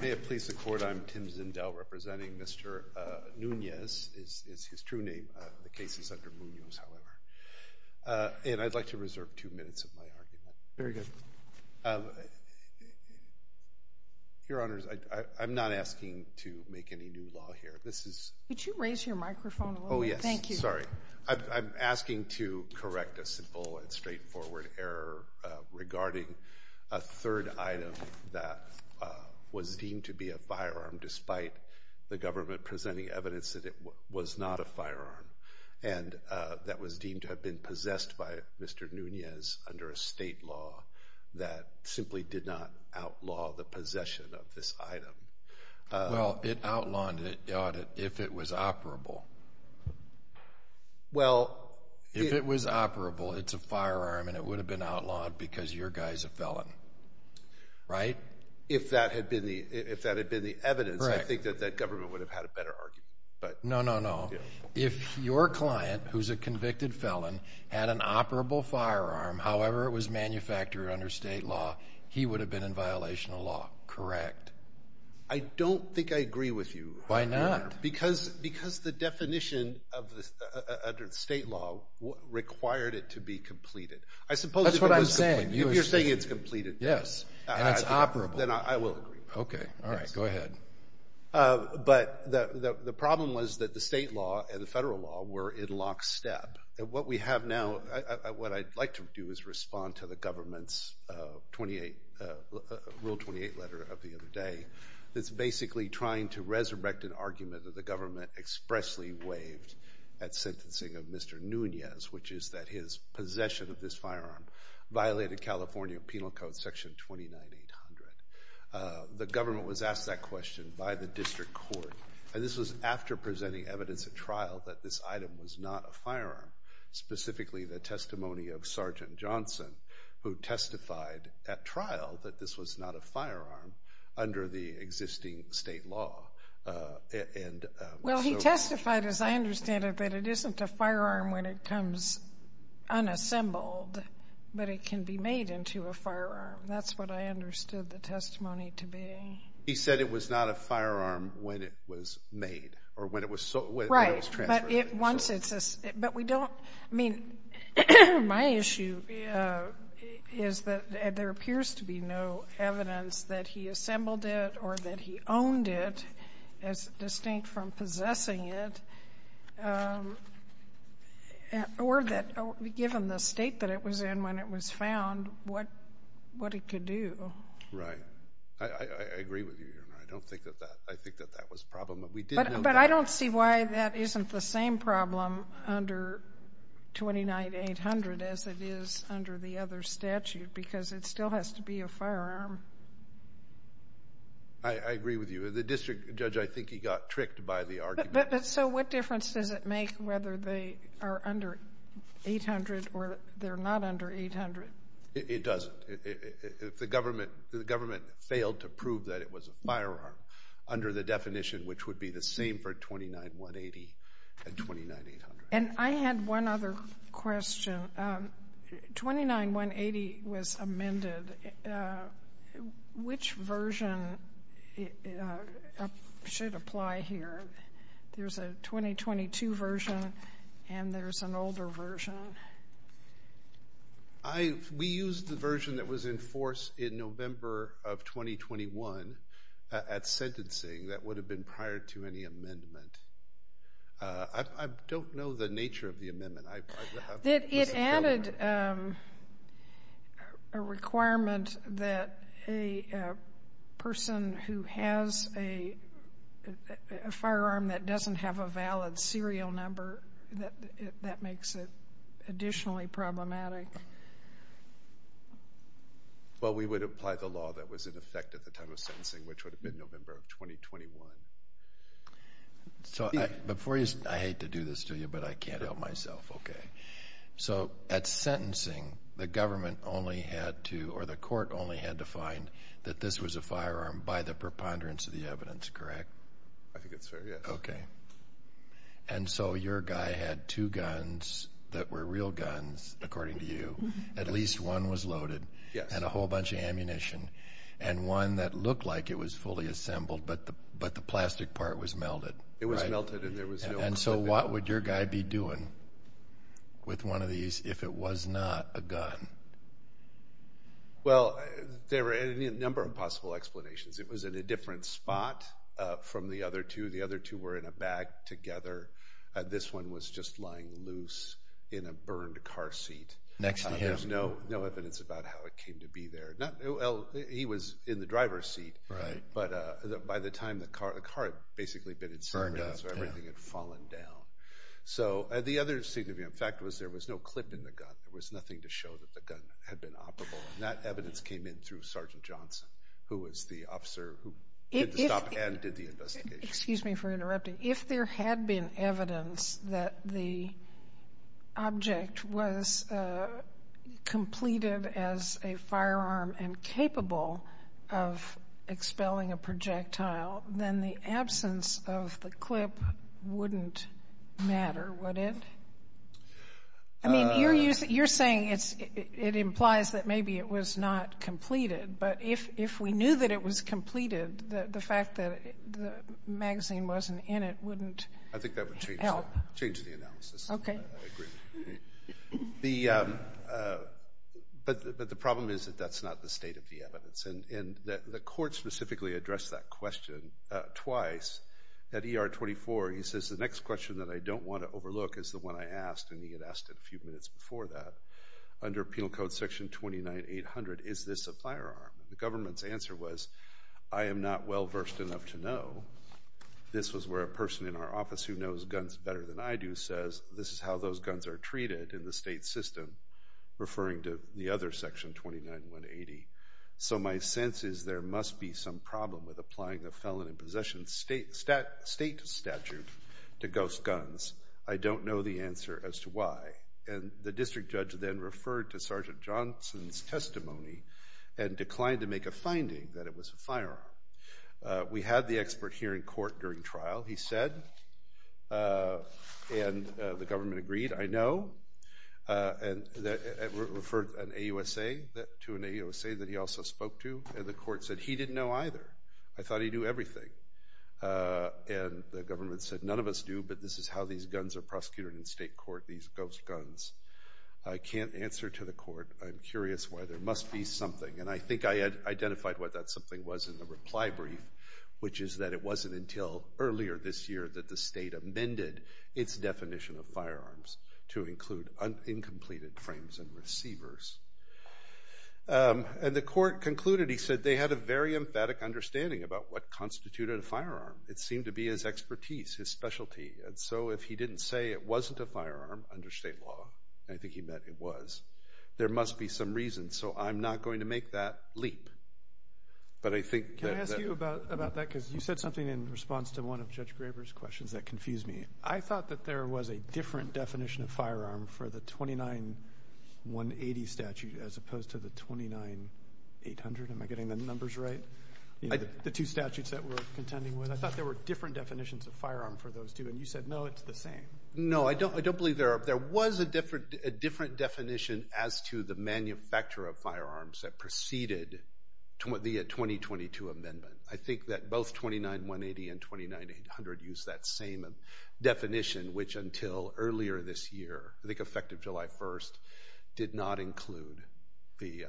May it please the court, I'm Tim Zendell representing Mr. Munoz, is his true name, the case is under Munoz, however. And I'd like to reserve two minutes of my argument. Very good. Your Honors, I'm not asking to make any new law here. This is... Could you raise your microphone a little bit? Thank you. I'm sorry. I'm asking to correct a simple and straightforward error regarding a third item that was deemed to be a firearm, despite the government presenting evidence that it was not a firearm, and that was deemed to have been possessed by Mr. Munoz under a state law that simply did not outlaw the possession of this item. Well, it outlawed it, if it was operable. Well... If it was operable, it's a firearm, and it would have been outlawed because your guy's a felon. Right? If that had been the evidence, I think that that government would have had a better argument. No, no, no. If your client, who's a convicted felon, had an operable firearm, however it was manufactured under state law, he would have been in violation of law. Correct. I don't think I agree with you. Why not? Because the definition under state law required it to be completed. That's what I'm saying. If you're saying it's completed... Yes. And it's operable. Then I will agree. Okay. All right. Go ahead. But the problem was that the state law and the federal law were in lockstep. What we have now, what I'd like to do is respond to the government's Rule 28 letter of the other day. It's basically trying to resurrect an argument that the government expressly waived at sentencing of Mr. Nunez, which is that his possession of this firearm violated California Penal Code Section 29800. The government was asked that question by the district court, and this was after presenting evidence at trial that this item was not a firearm, specifically the testimony of Sergeant Johnson, who testified at trial that this was not a firearm under the existing state law. Well, he testified, as I understand it, that it isn't a firearm when it comes unassembled, but it can be made into a firearm. That's what I understood the testimony to be. He said it was not a firearm when it was made or when it was transferred. Right. But we don't – I mean, my issue is that there appears to be no evidence that he assembled it or that he owned it, distinct from possessing it, or that given the state that it was in when it was found, what it could do. Right. I agree with you, Your Honor. I don't think that that – I think that that was a problem. But we did know that. But I don't see why that isn't the same problem under 29800 as it is under the other statute because it still has to be a firearm. I agree with you. The district judge, I think he got tricked by the argument. But so what difference does it make whether they are under 800 or they're not under 800? It doesn't. The government failed to prove that it was a firearm under the definition, which would be the same for 29180 and 29800. And I had one other question. 29180 was amended. Which version should apply here? There's a 2022 version and there's an older version. We used the version that was in force in November of 2021 at sentencing that would have been prior to any amendment. I don't know the nature of the amendment. It added a requirement that a person who has a firearm that doesn't have a valid serial number, that makes it additionally problematic. Well, we would apply the law that was in effect at the time of sentencing, which would have been November of 2021. I hate to do this to you, but I can't help myself. So at sentencing, the government only had to – or the court only had to find that this was a firearm by the preponderance of the evidence, correct? I think it's fair, yes. Okay. And so your guy had two guns that were real guns, according to you. At least one was loaded and a whole bunch of ammunition, and one that looked like it was fully assembled, but the plastic part was melted. It was melted and there was no – And so what would your guy be doing with one of these if it was not a gun? Well, there were a number of possible explanations. It was in a different spot from the other two. The other two were in a bag together. This one was just lying loose in a burned car seat. Next to him. There's no evidence about how it came to be there. He was in the driver's seat. Right. But by the time the car – the car had basically been – Burned up, yeah. So everything had fallen down. So the other significant fact was there was no clip in the gun. There was nothing to show that the gun had been operable. And that evidence came in through Sergeant Johnson, who was the officer who did the stop and did the investigation. Excuse me for interrupting. If there had been evidence that the object was completed as a firearm and capable of expelling a projectile, then the absence of the clip wouldn't matter, would it? I mean, you're saying it implies that maybe it was not completed. But if we knew that it was completed, the fact that the magazine wasn't in it wouldn't help. I think that would change the analysis. Okay. I agree. But the problem is that that's not the state of the evidence. And the court specifically addressed that question twice at ER 24. He says, the next question that I don't want to overlook is the one I asked, and he had asked it a few minutes before that. Under Penal Code Section 29800, is this a firearm? The government's answer was, I am not well-versed enough to know. This was where a person in our office who knows guns better than I do says, this is how those guns are treated in the state system, referring to the other Section 29180. So my sense is there must be some problem with applying a felon in possession state statute to ghost guns. I don't know the answer as to why. And the district judge then referred to Sergeant Johnson's testimony and declined to make a finding that it was a firearm. We had the expert here in court during trial. He said, and the government agreed, I know, and referred an AUSA to an AUSA that he also spoke to, and the court said he didn't know either. I thought he knew everything. And the government said, none of us do, but this is how these guns are prosecuted in state court, these ghost guns. I can't answer to the court. I'm curious why. There must be something. And I think I identified what that something was in the reply brief, which is that it wasn't until earlier this year that the state amended its definition of firearms to include uncompleted frames and receivers. And the court concluded, he said, they had a very emphatic understanding about what constituted a firearm. It seemed to be his expertise, his specialty. And so if he didn't say it wasn't a firearm under state law, and I think he meant it was, there must be some reason. So I'm not going to make that leap. Can I ask you about that? Because you said something in response to one of Judge Graber's questions that confused me. I thought that there was a different definition of firearm for the 29-180 statute as opposed to the 29-800. Am I getting the numbers right? The two statutes that we're contending with. I thought there were different definitions of firearm for those two, and you said, no, it's the same. No, I don't believe there are. There was a different definition as to the manufacturer of firearms that preceded the 2022 amendment. I think that both 29-180 and 29-800 use that same definition, which until earlier this year, I think effective July 1st, did not include the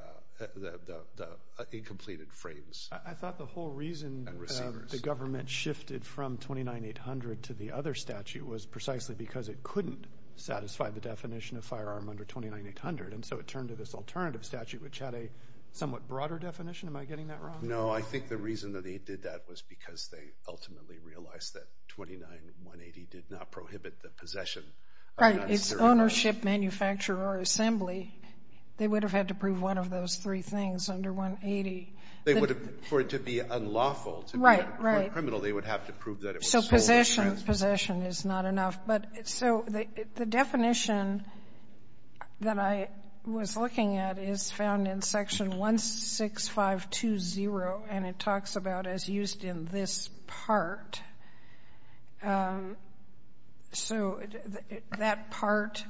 incompleted frames. I thought the whole reason the government shifted from 29-800 to the other statute was precisely because it couldn't satisfy the definition of firearm under 29-800, and so it turned to this alternative statute, which had a somewhat broader definition. Am I getting that wrong? No, I think the reason that he did that was because they ultimately realized that 29-180 did not prohibit the possession. Right. It's ownership, manufacturer, or assembly. They would have had to prove one of those three things under 180. For it to be unlawful, for it to be criminal, they would have to prove that it was sold. So possession is not enough. So the definition that I was looking at is found in Section 16520, and it talks about as used in this part. So that part,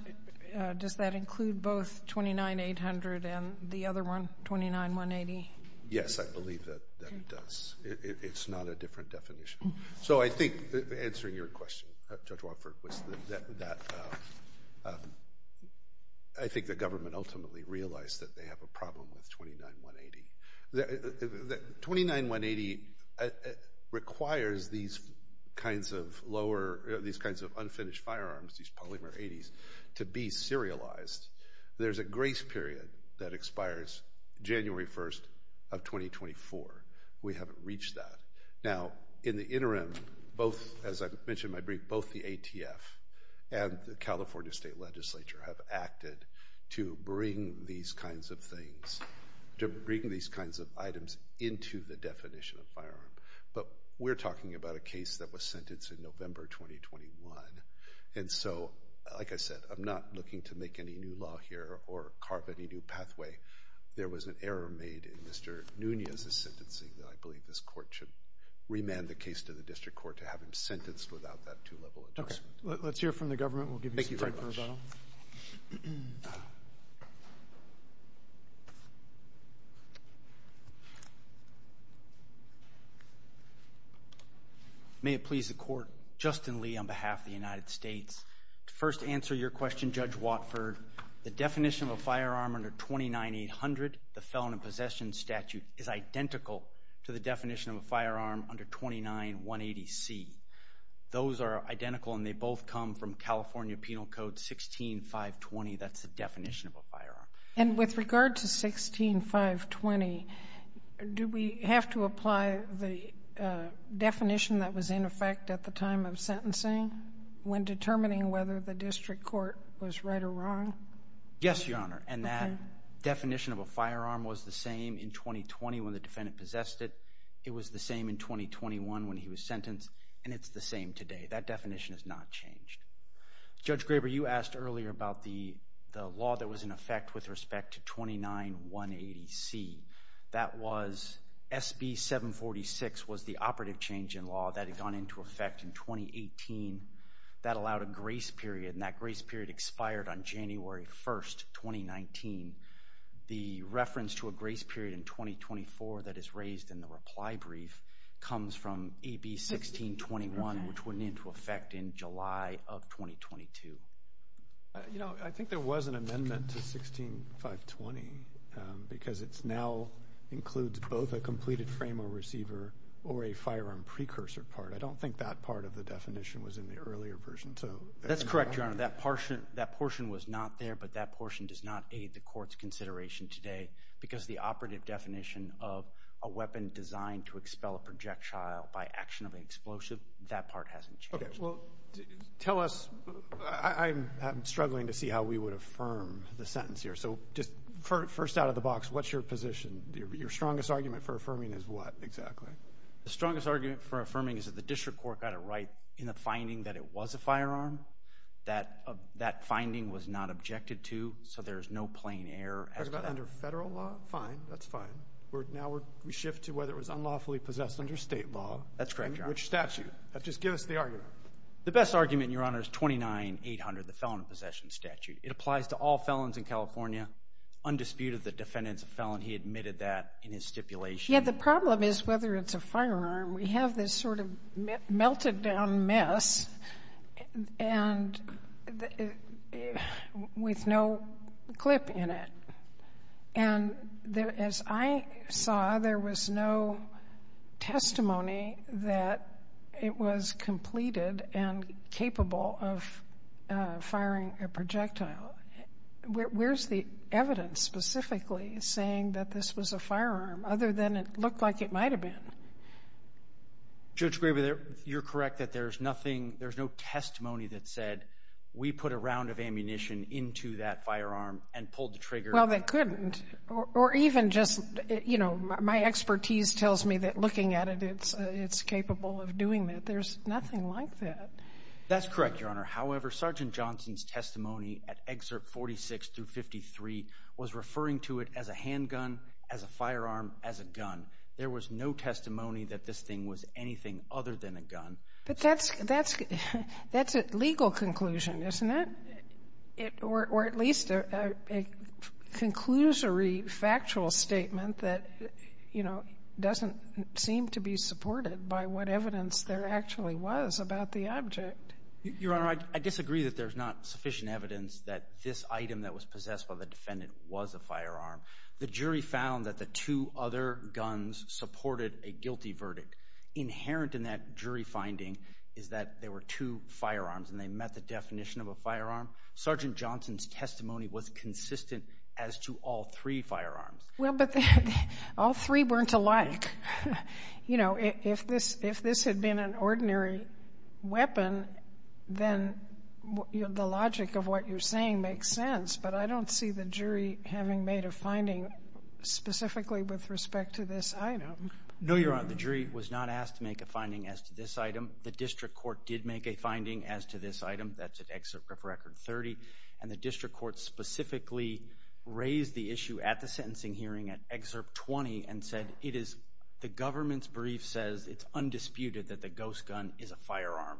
does that include both 29-800 and the other one, 29-180? Yes, I believe that it does. It's not a different definition. So I think, answering your question, Judge Watford, I think the government ultimately realized that they have a problem with 29-180. 29-180 requires these kinds of unfinished firearms, these polymer 80s, to be serialized. There's a grace period that expires January 1st of 2024. We haven't reached that. Now, in the interim, both, as I mentioned in my brief, both the ATF and the California State Legislature have acted to bring these kinds of things, to bring these kinds of items into the definition of firearm. But we're talking about a case that was sentenced in November 2021. And so, like I said, I'm not looking to make any new law here or carve any new pathway. There was an error made in Mr. Nunez's sentencing, and I believe this court should remand the case to the district court to have him sentenced without that two-level objection. Okay. Let's hear from the government. We'll give you some time for rebuttal. May it please the court. Justin Lee on behalf of the United States. To first answer your question, Judge Watford, the definition of a firearm under 29-800, the felon in possession statute, is identical to the definition of a firearm under 29-180C. Those are identical, and they both come from California Penal Code 16-520. That's the definition of a firearm. And with regard to 16-520, do we have to apply the definition that was in effect at the time of sentencing when determining whether the district court was right or wrong? Yes, Your Honor. And that definition of a firearm was the same in 2020 when the defendant possessed it. It was the same in 2021 when he was sentenced. And it's the same today. That definition has not changed. Judge Graber, you asked earlier about the law that was in effect with respect to 29-180C. That was SB 746 was the operative change in law that had gone into effect in 2018. That allowed a grace period, and that grace period expired on January 1, 2019. The reference to a grace period in 2024 that is raised in the reply brief comes from AB 1621, which went into effect in July of 2022. You know, I think there was an amendment to 16-520 because it now includes both a completed frame or receiver or a firearm precursor part. I don't think that part of the definition was in the earlier version. That's correct, Your Honor. That portion was not there, but that portion does not aid the court's consideration today because the operative definition of a weapon designed to expel a projectile by action of an explosive, that part hasn't changed. Well, tell us. I'm struggling to see how we would affirm the sentence here. So just first out of the box, what's your position? Your strongest argument for affirming is what exactly? The strongest argument for affirming is that the district court got it right in the finding that it was a firearm. Fine, that's fine. Now we shift to whether it was unlawfully possessed under state law. That's correct, Your Honor. And which statute? Just give us the argument. The best argument, Your Honor, is 29-800, the Felon Possession Statute. It applies to all felons in California. Undisputed, the defendant's a felon. He admitted that in his stipulation. Yeah, the problem is whether it's a firearm. We have this sort of melted-down mess with no clip in it. And as I saw, there was no testimony that it was completed and capable of firing a projectile. Where's the evidence specifically saying that this was a firearm other than it looked like it might have been? Judge Graber, you're correct that there's nothing, there's no testimony that said we put a round of ammunition into that firearm and pulled the trigger. Well, they couldn't. Or even just, you know, my expertise tells me that looking at it, it's capable of doing that. There's nothing like that. That's correct, Your Honor. However, Sergeant Johnson's testimony at Excerpt 46 through 53 was referring to it as a handgun, as a firearm, as a gun. There was no testimony that this thing was anything other than a gun. But that's a legal conclusion, isn't it? Or at least a conclusory factual statement that, you know, doesn't seem to be supported by what evidence there actually was about the object. Your Honor, I disagree that there's not sufficient evidence that this item that was possessed by the defendant was a firearm. The jury found that the two other guns supported a guilty verdict. Inherent in that jury finding is that there were two firearms and they met the definition of a firearm. Sergeant Johnson's testimony was consistent as to all three firearms. Well, but all three weren't alike. You know, if this had been an ordinary weapon, then the logic of what you're saying makes sense. But I don't see the jury having made a finding specifically with respect to this item. No, Your Honor. The jury was not asked to make a finding as to this item. The district court did make a finding as to this item. That's at Excerpt 30. And the district court specifically raised the issue at the sentencing hearing at Excerpt 20 and said, The government's brief says it's undisputed that the ghost gun is a firearm.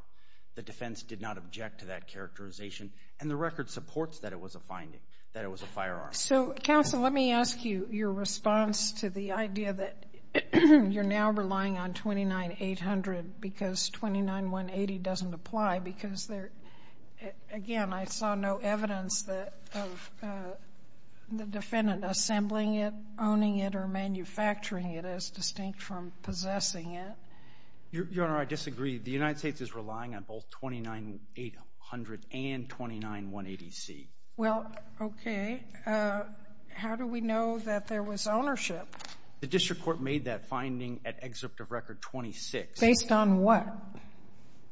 The defense did not object to that characterization. And the record supports that it was a finding, that it was a firearm. So, counsel, let me ask you your response to the idea that you're now relying on 29-800 because 29-180 doesn't apply because, again, I saw no evidence of the defendant assembling it, owning it, or manufacturing it as distinct from possessing it. Your Honor, I disagree. The United States is relying on both 29-800 and 29-180C. Well, okay. How do we know that there was ownership? The district court made that finding at Excerpt of Record 26. Based on what?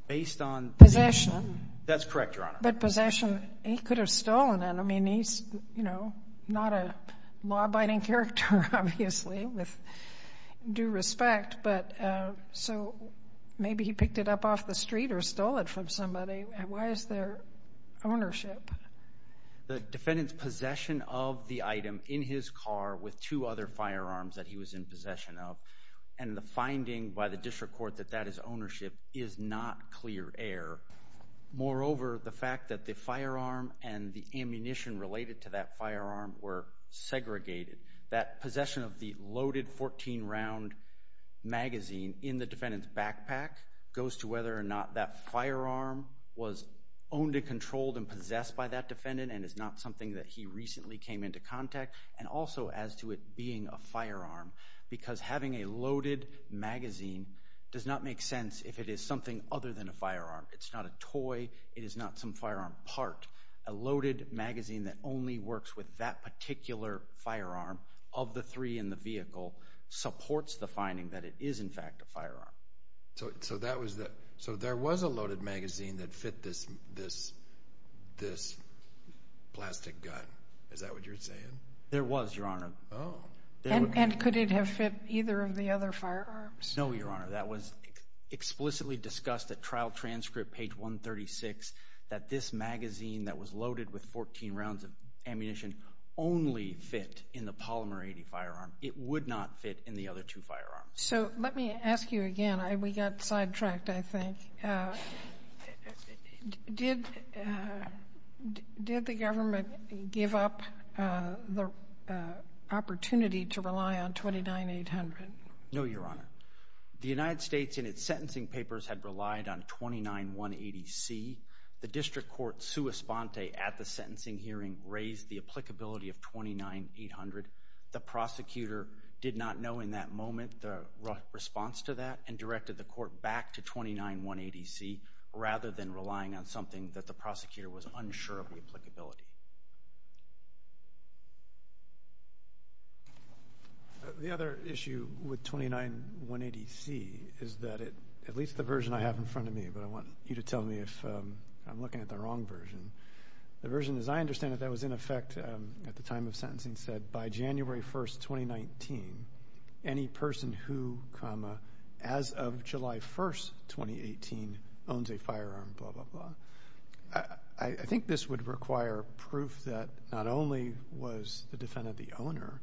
Based on possession. That's correct, Your Honor. But possession, he could have stolen it. I mean, he's, you know, not a law-abiding character, obviously, with due respect. But so maybe he picked it up off the street or stole it from somebody. Why is there ownership? The defendant's possession of the item in his car with two other firearms that he was in possession of, and the finding by the district court that that is ownership is not clear air. Moreover, the fact that the firearm and the ammunition related to that firearm were segregated, that possession of the loaded 14-round magazine in the defendant's backpack goes to whether or not that firearm was owned and controlled and possessed by that defendant and is not something that he recently came into contact, and also as to it being a firearm because having a loaded magazine does not make sense if it is something other than a firearm. It's not a toy. It is not some firearm part. A loaded magazine that only works with that particular firearm of the three in the vehicle supports the finding that it is, in fact, a firearm. So there was a loaded magazine that fit this plastic gun. Is that what you're saying? There was, Your Honor. Oh. And could it have fit either of the other firearms? No, Your Honor. That was explicitly discussed at trial transcript page 136 that this magazine that was loaded with 14 rounds of ammunition only fit in the polymer 80 firearm. It would not fit in the other two firearms. So let me ask you again. We got sidetracked, I think. Did the government give up the opportunity to rely on 29-800? No, Your Honor. The United States in its sentencing papers had relied on 29-180C. The district court's sua sponte at the sentencing hearing raised the applicability of 29-800. The prosecutor did not know in that moment the response to that and directed the court back to 29-180C rather than relying on something that the prosecutor was unsure of the applicability. The other issue with 29-180C is that it, at least the version I have in front of me, but I want you to tell me if I'm looking at the wrong version. The version, as I understand it, that was in effect at the time of sentencing and said by January 1st, 2019, any person who, comma, as of July 1st, 2018, owns a firearm, blah, blah, blah. I think this would require proof that not only was the defendant the owner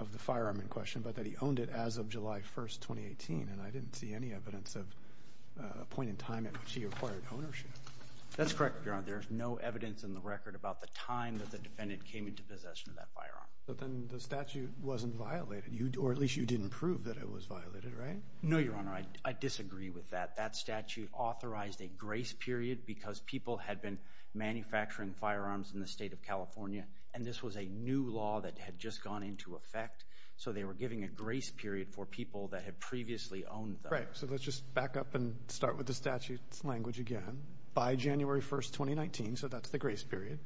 of the firearm in question, but that he owned it as of July 1st, 2018, and I didn't see any evidence of a point in time at which he acquired ownership. That's correct, Your Honor. There's no evidence in the record about the time that the defendant came into possession of that firearm. But then the statute wasn't violated, or at least you didn't prove that it was violated, right? No, Your Honor. I disagree with that. That statute authorized a grace period because people had been manufacturing firearms in the state of California, and this was a new law that had just gone into effect, so they were giving a grace period for people that had previously owned them. Right. So let's just back up and start with the statute's language again. By January 1st, 2019, so that's the grace period,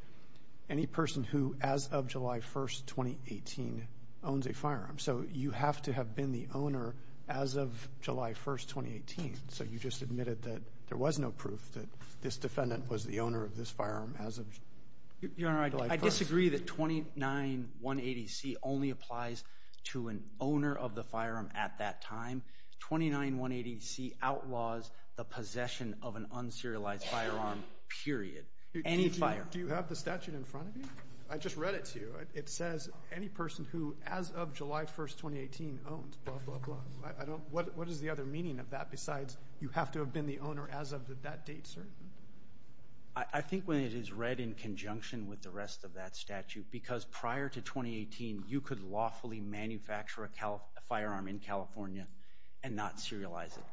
any person who, as of July 1st, 2018, owns a firearm. So you have to have been the owner as of July 1st, 2018, so you just admitted that there was no proof that this defendant was the owner of this firearm as of July 1st. Your Honor, I disagree that 29180C only applies to an owner of the firearm at that time. 29180C outlaws the possession of an unserialized firearm, period. Do you have the statute in front of you? I just read it to you. It says any person who, as of July 1st, 2018, owns, blah, blah, blah. What is the other meaning of that besides you have to have been the owner as of that date, sir? I think when it is read in conjunction with the rest of that statute, because prior to 2018, you could lawfully manufacture a firearm in California and not serialize it.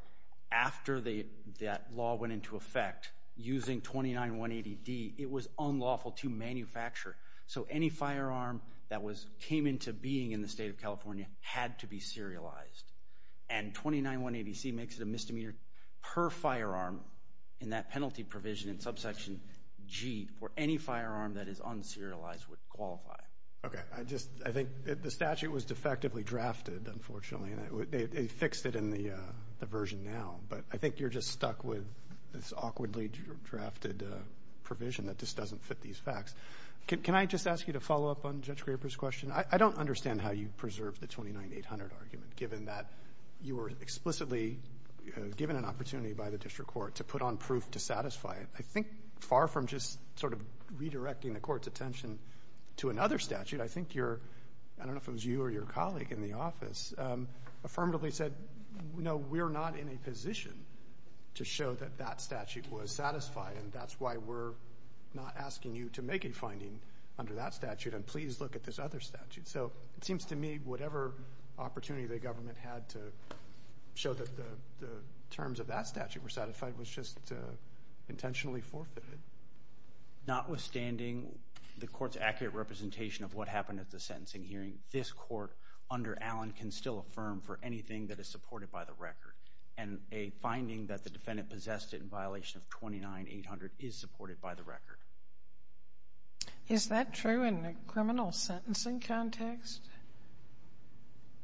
After that law went into effect, using 29180D, it was unlawful to manufacture. So any firearm that came into being in the state of California had to be serialized. And 29180C makes it a misdemeanor per firearm in that penalty provision in subsection G where any firearm that is unserialized would qualify. Okay. I think the statute was defectively drafted, unfortunately, and they fixed it in the version now. But I think you're just stuck with this awkwardly drafted provision that just doesn't fit these facts. Can I just ask you to follow up on Judge Graper's question? I don't understand how you preserved the 29800 argument, given that you were explicitly given an opportunity by the district court to put on proof to satisfy it. I think far from just sort of redirecting the court's attention to another statute, I think youróI don't know if it was you or your colleague in the officeóaffirmatively said, no, we're not in a position to show that that statute was satisfied, and that's why we're not asking you to make a finding under that statute, and please look at this other statute. So it seems to me whatever opportunity the government had to show that the terms of that statute were satisfied was just intentionally forfeited. Notwithstanding the court's accurate representation of what happened at the sentencing hearing, this court under Allen can still affirm for anything that is supported by the record, and a finding that the defendant possessed it in violation of 29800 is supported by the record. Is that true in a criminal sentencing context?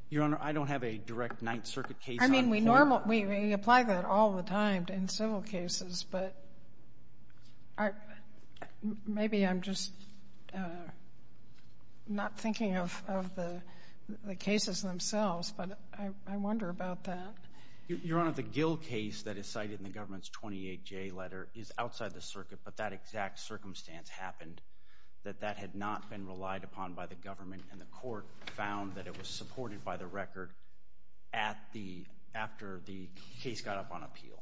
Your Honor, I don't have a direct Ninth Circuit case on the court. I mean, we apply that all the time in civil cases, but maybe I'm just not thinking of the cases themselves, but I wonder about that. Your Honor, the Gill case that is cited in the government's 28J letter is outside the circuit, but that exact circumstance happened that that had not been relied upon by the government, and the court found that it was supported by the record after the case got up on appeal.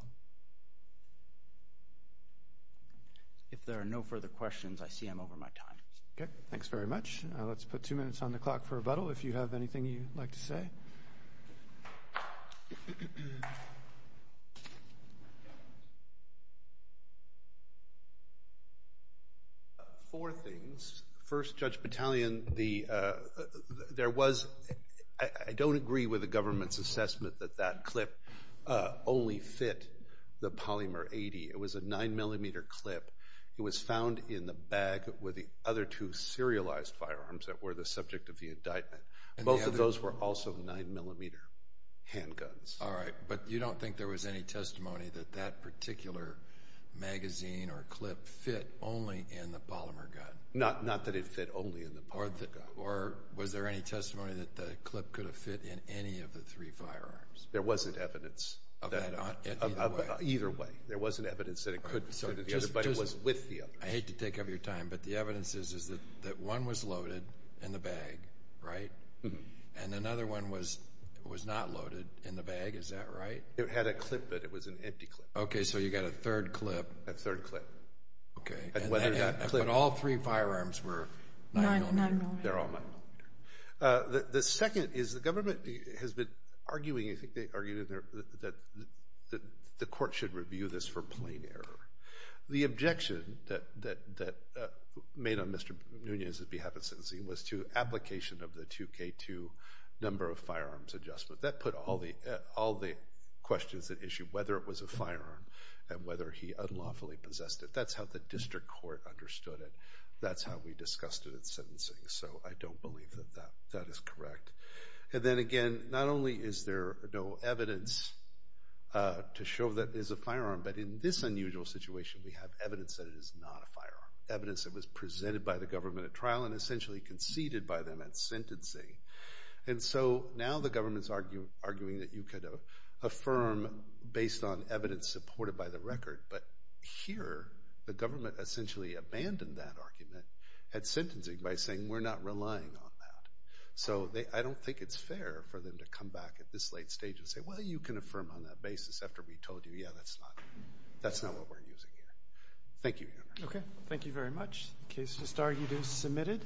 If there are no further questions, I see I'm over my time. Okay. Thanks very much. Let's put two minutes on the clock for rebuttal if you have anything you'd like to say. Four things. First, Judge Battalion, I don't agree with the government's assessment that that clip only fit the Polymer 80. It was a 9-millimeter clip. It was found in the bag with the other two serialized firearms that were the subject of the indictment. Both of those were also 9-millimeter handguns. All right. But you don't think there was any testimony that that particular magazine or clip fit only in the Polymer gun? Not that it fit only in the Polymer gun. Or was there any testimony that the clip could have fit in any of the three firearms? There wasn't evidence. Okay. Either way. Either way. There wasn't evidence that the other buddy was with the other. I hate to take up your time, but the evidence is that one was loaded in the bag, right? And another one was not loaded in the bag. Is that right? It had a clip, but it was an empty clip. Okay. So you got a third clip. A third clip. Okay. But all three firearms were 9-millimeter. They're all 9-millimeter. The second is the government has been arguing, I think they argued that the court should review this for plain error. The objection that made on Mr. Nunez's behalf at sentencing was to application of the 2K2 number of firearms adjustment. That put all the questions at issue, whether it was a firearm and whether he unlawfully possessed it. That's how the district court understood it. That's how we discussed it at sentencing. So I don't believe that that is correct. And then, again, not only is there no evidence to show that it is a firearm, but in this unusual situation we have evidence that it is not a firearm, evidence that was presented by the government at trial and essentially conceded by them at sentencing. And so now the government is arguing that you could affirm based on evidence supported by the record, but here the government essentially abandoned that argument at sentencing by saying we're not relying on that. So I don't think it's fair for them to come back at this late stage and say, well, you can affirm on that basis after we told you, yeah, that's not what we're using here. Thank you, Your Honor. Okay. Thank you very much. The case just argued is submitted.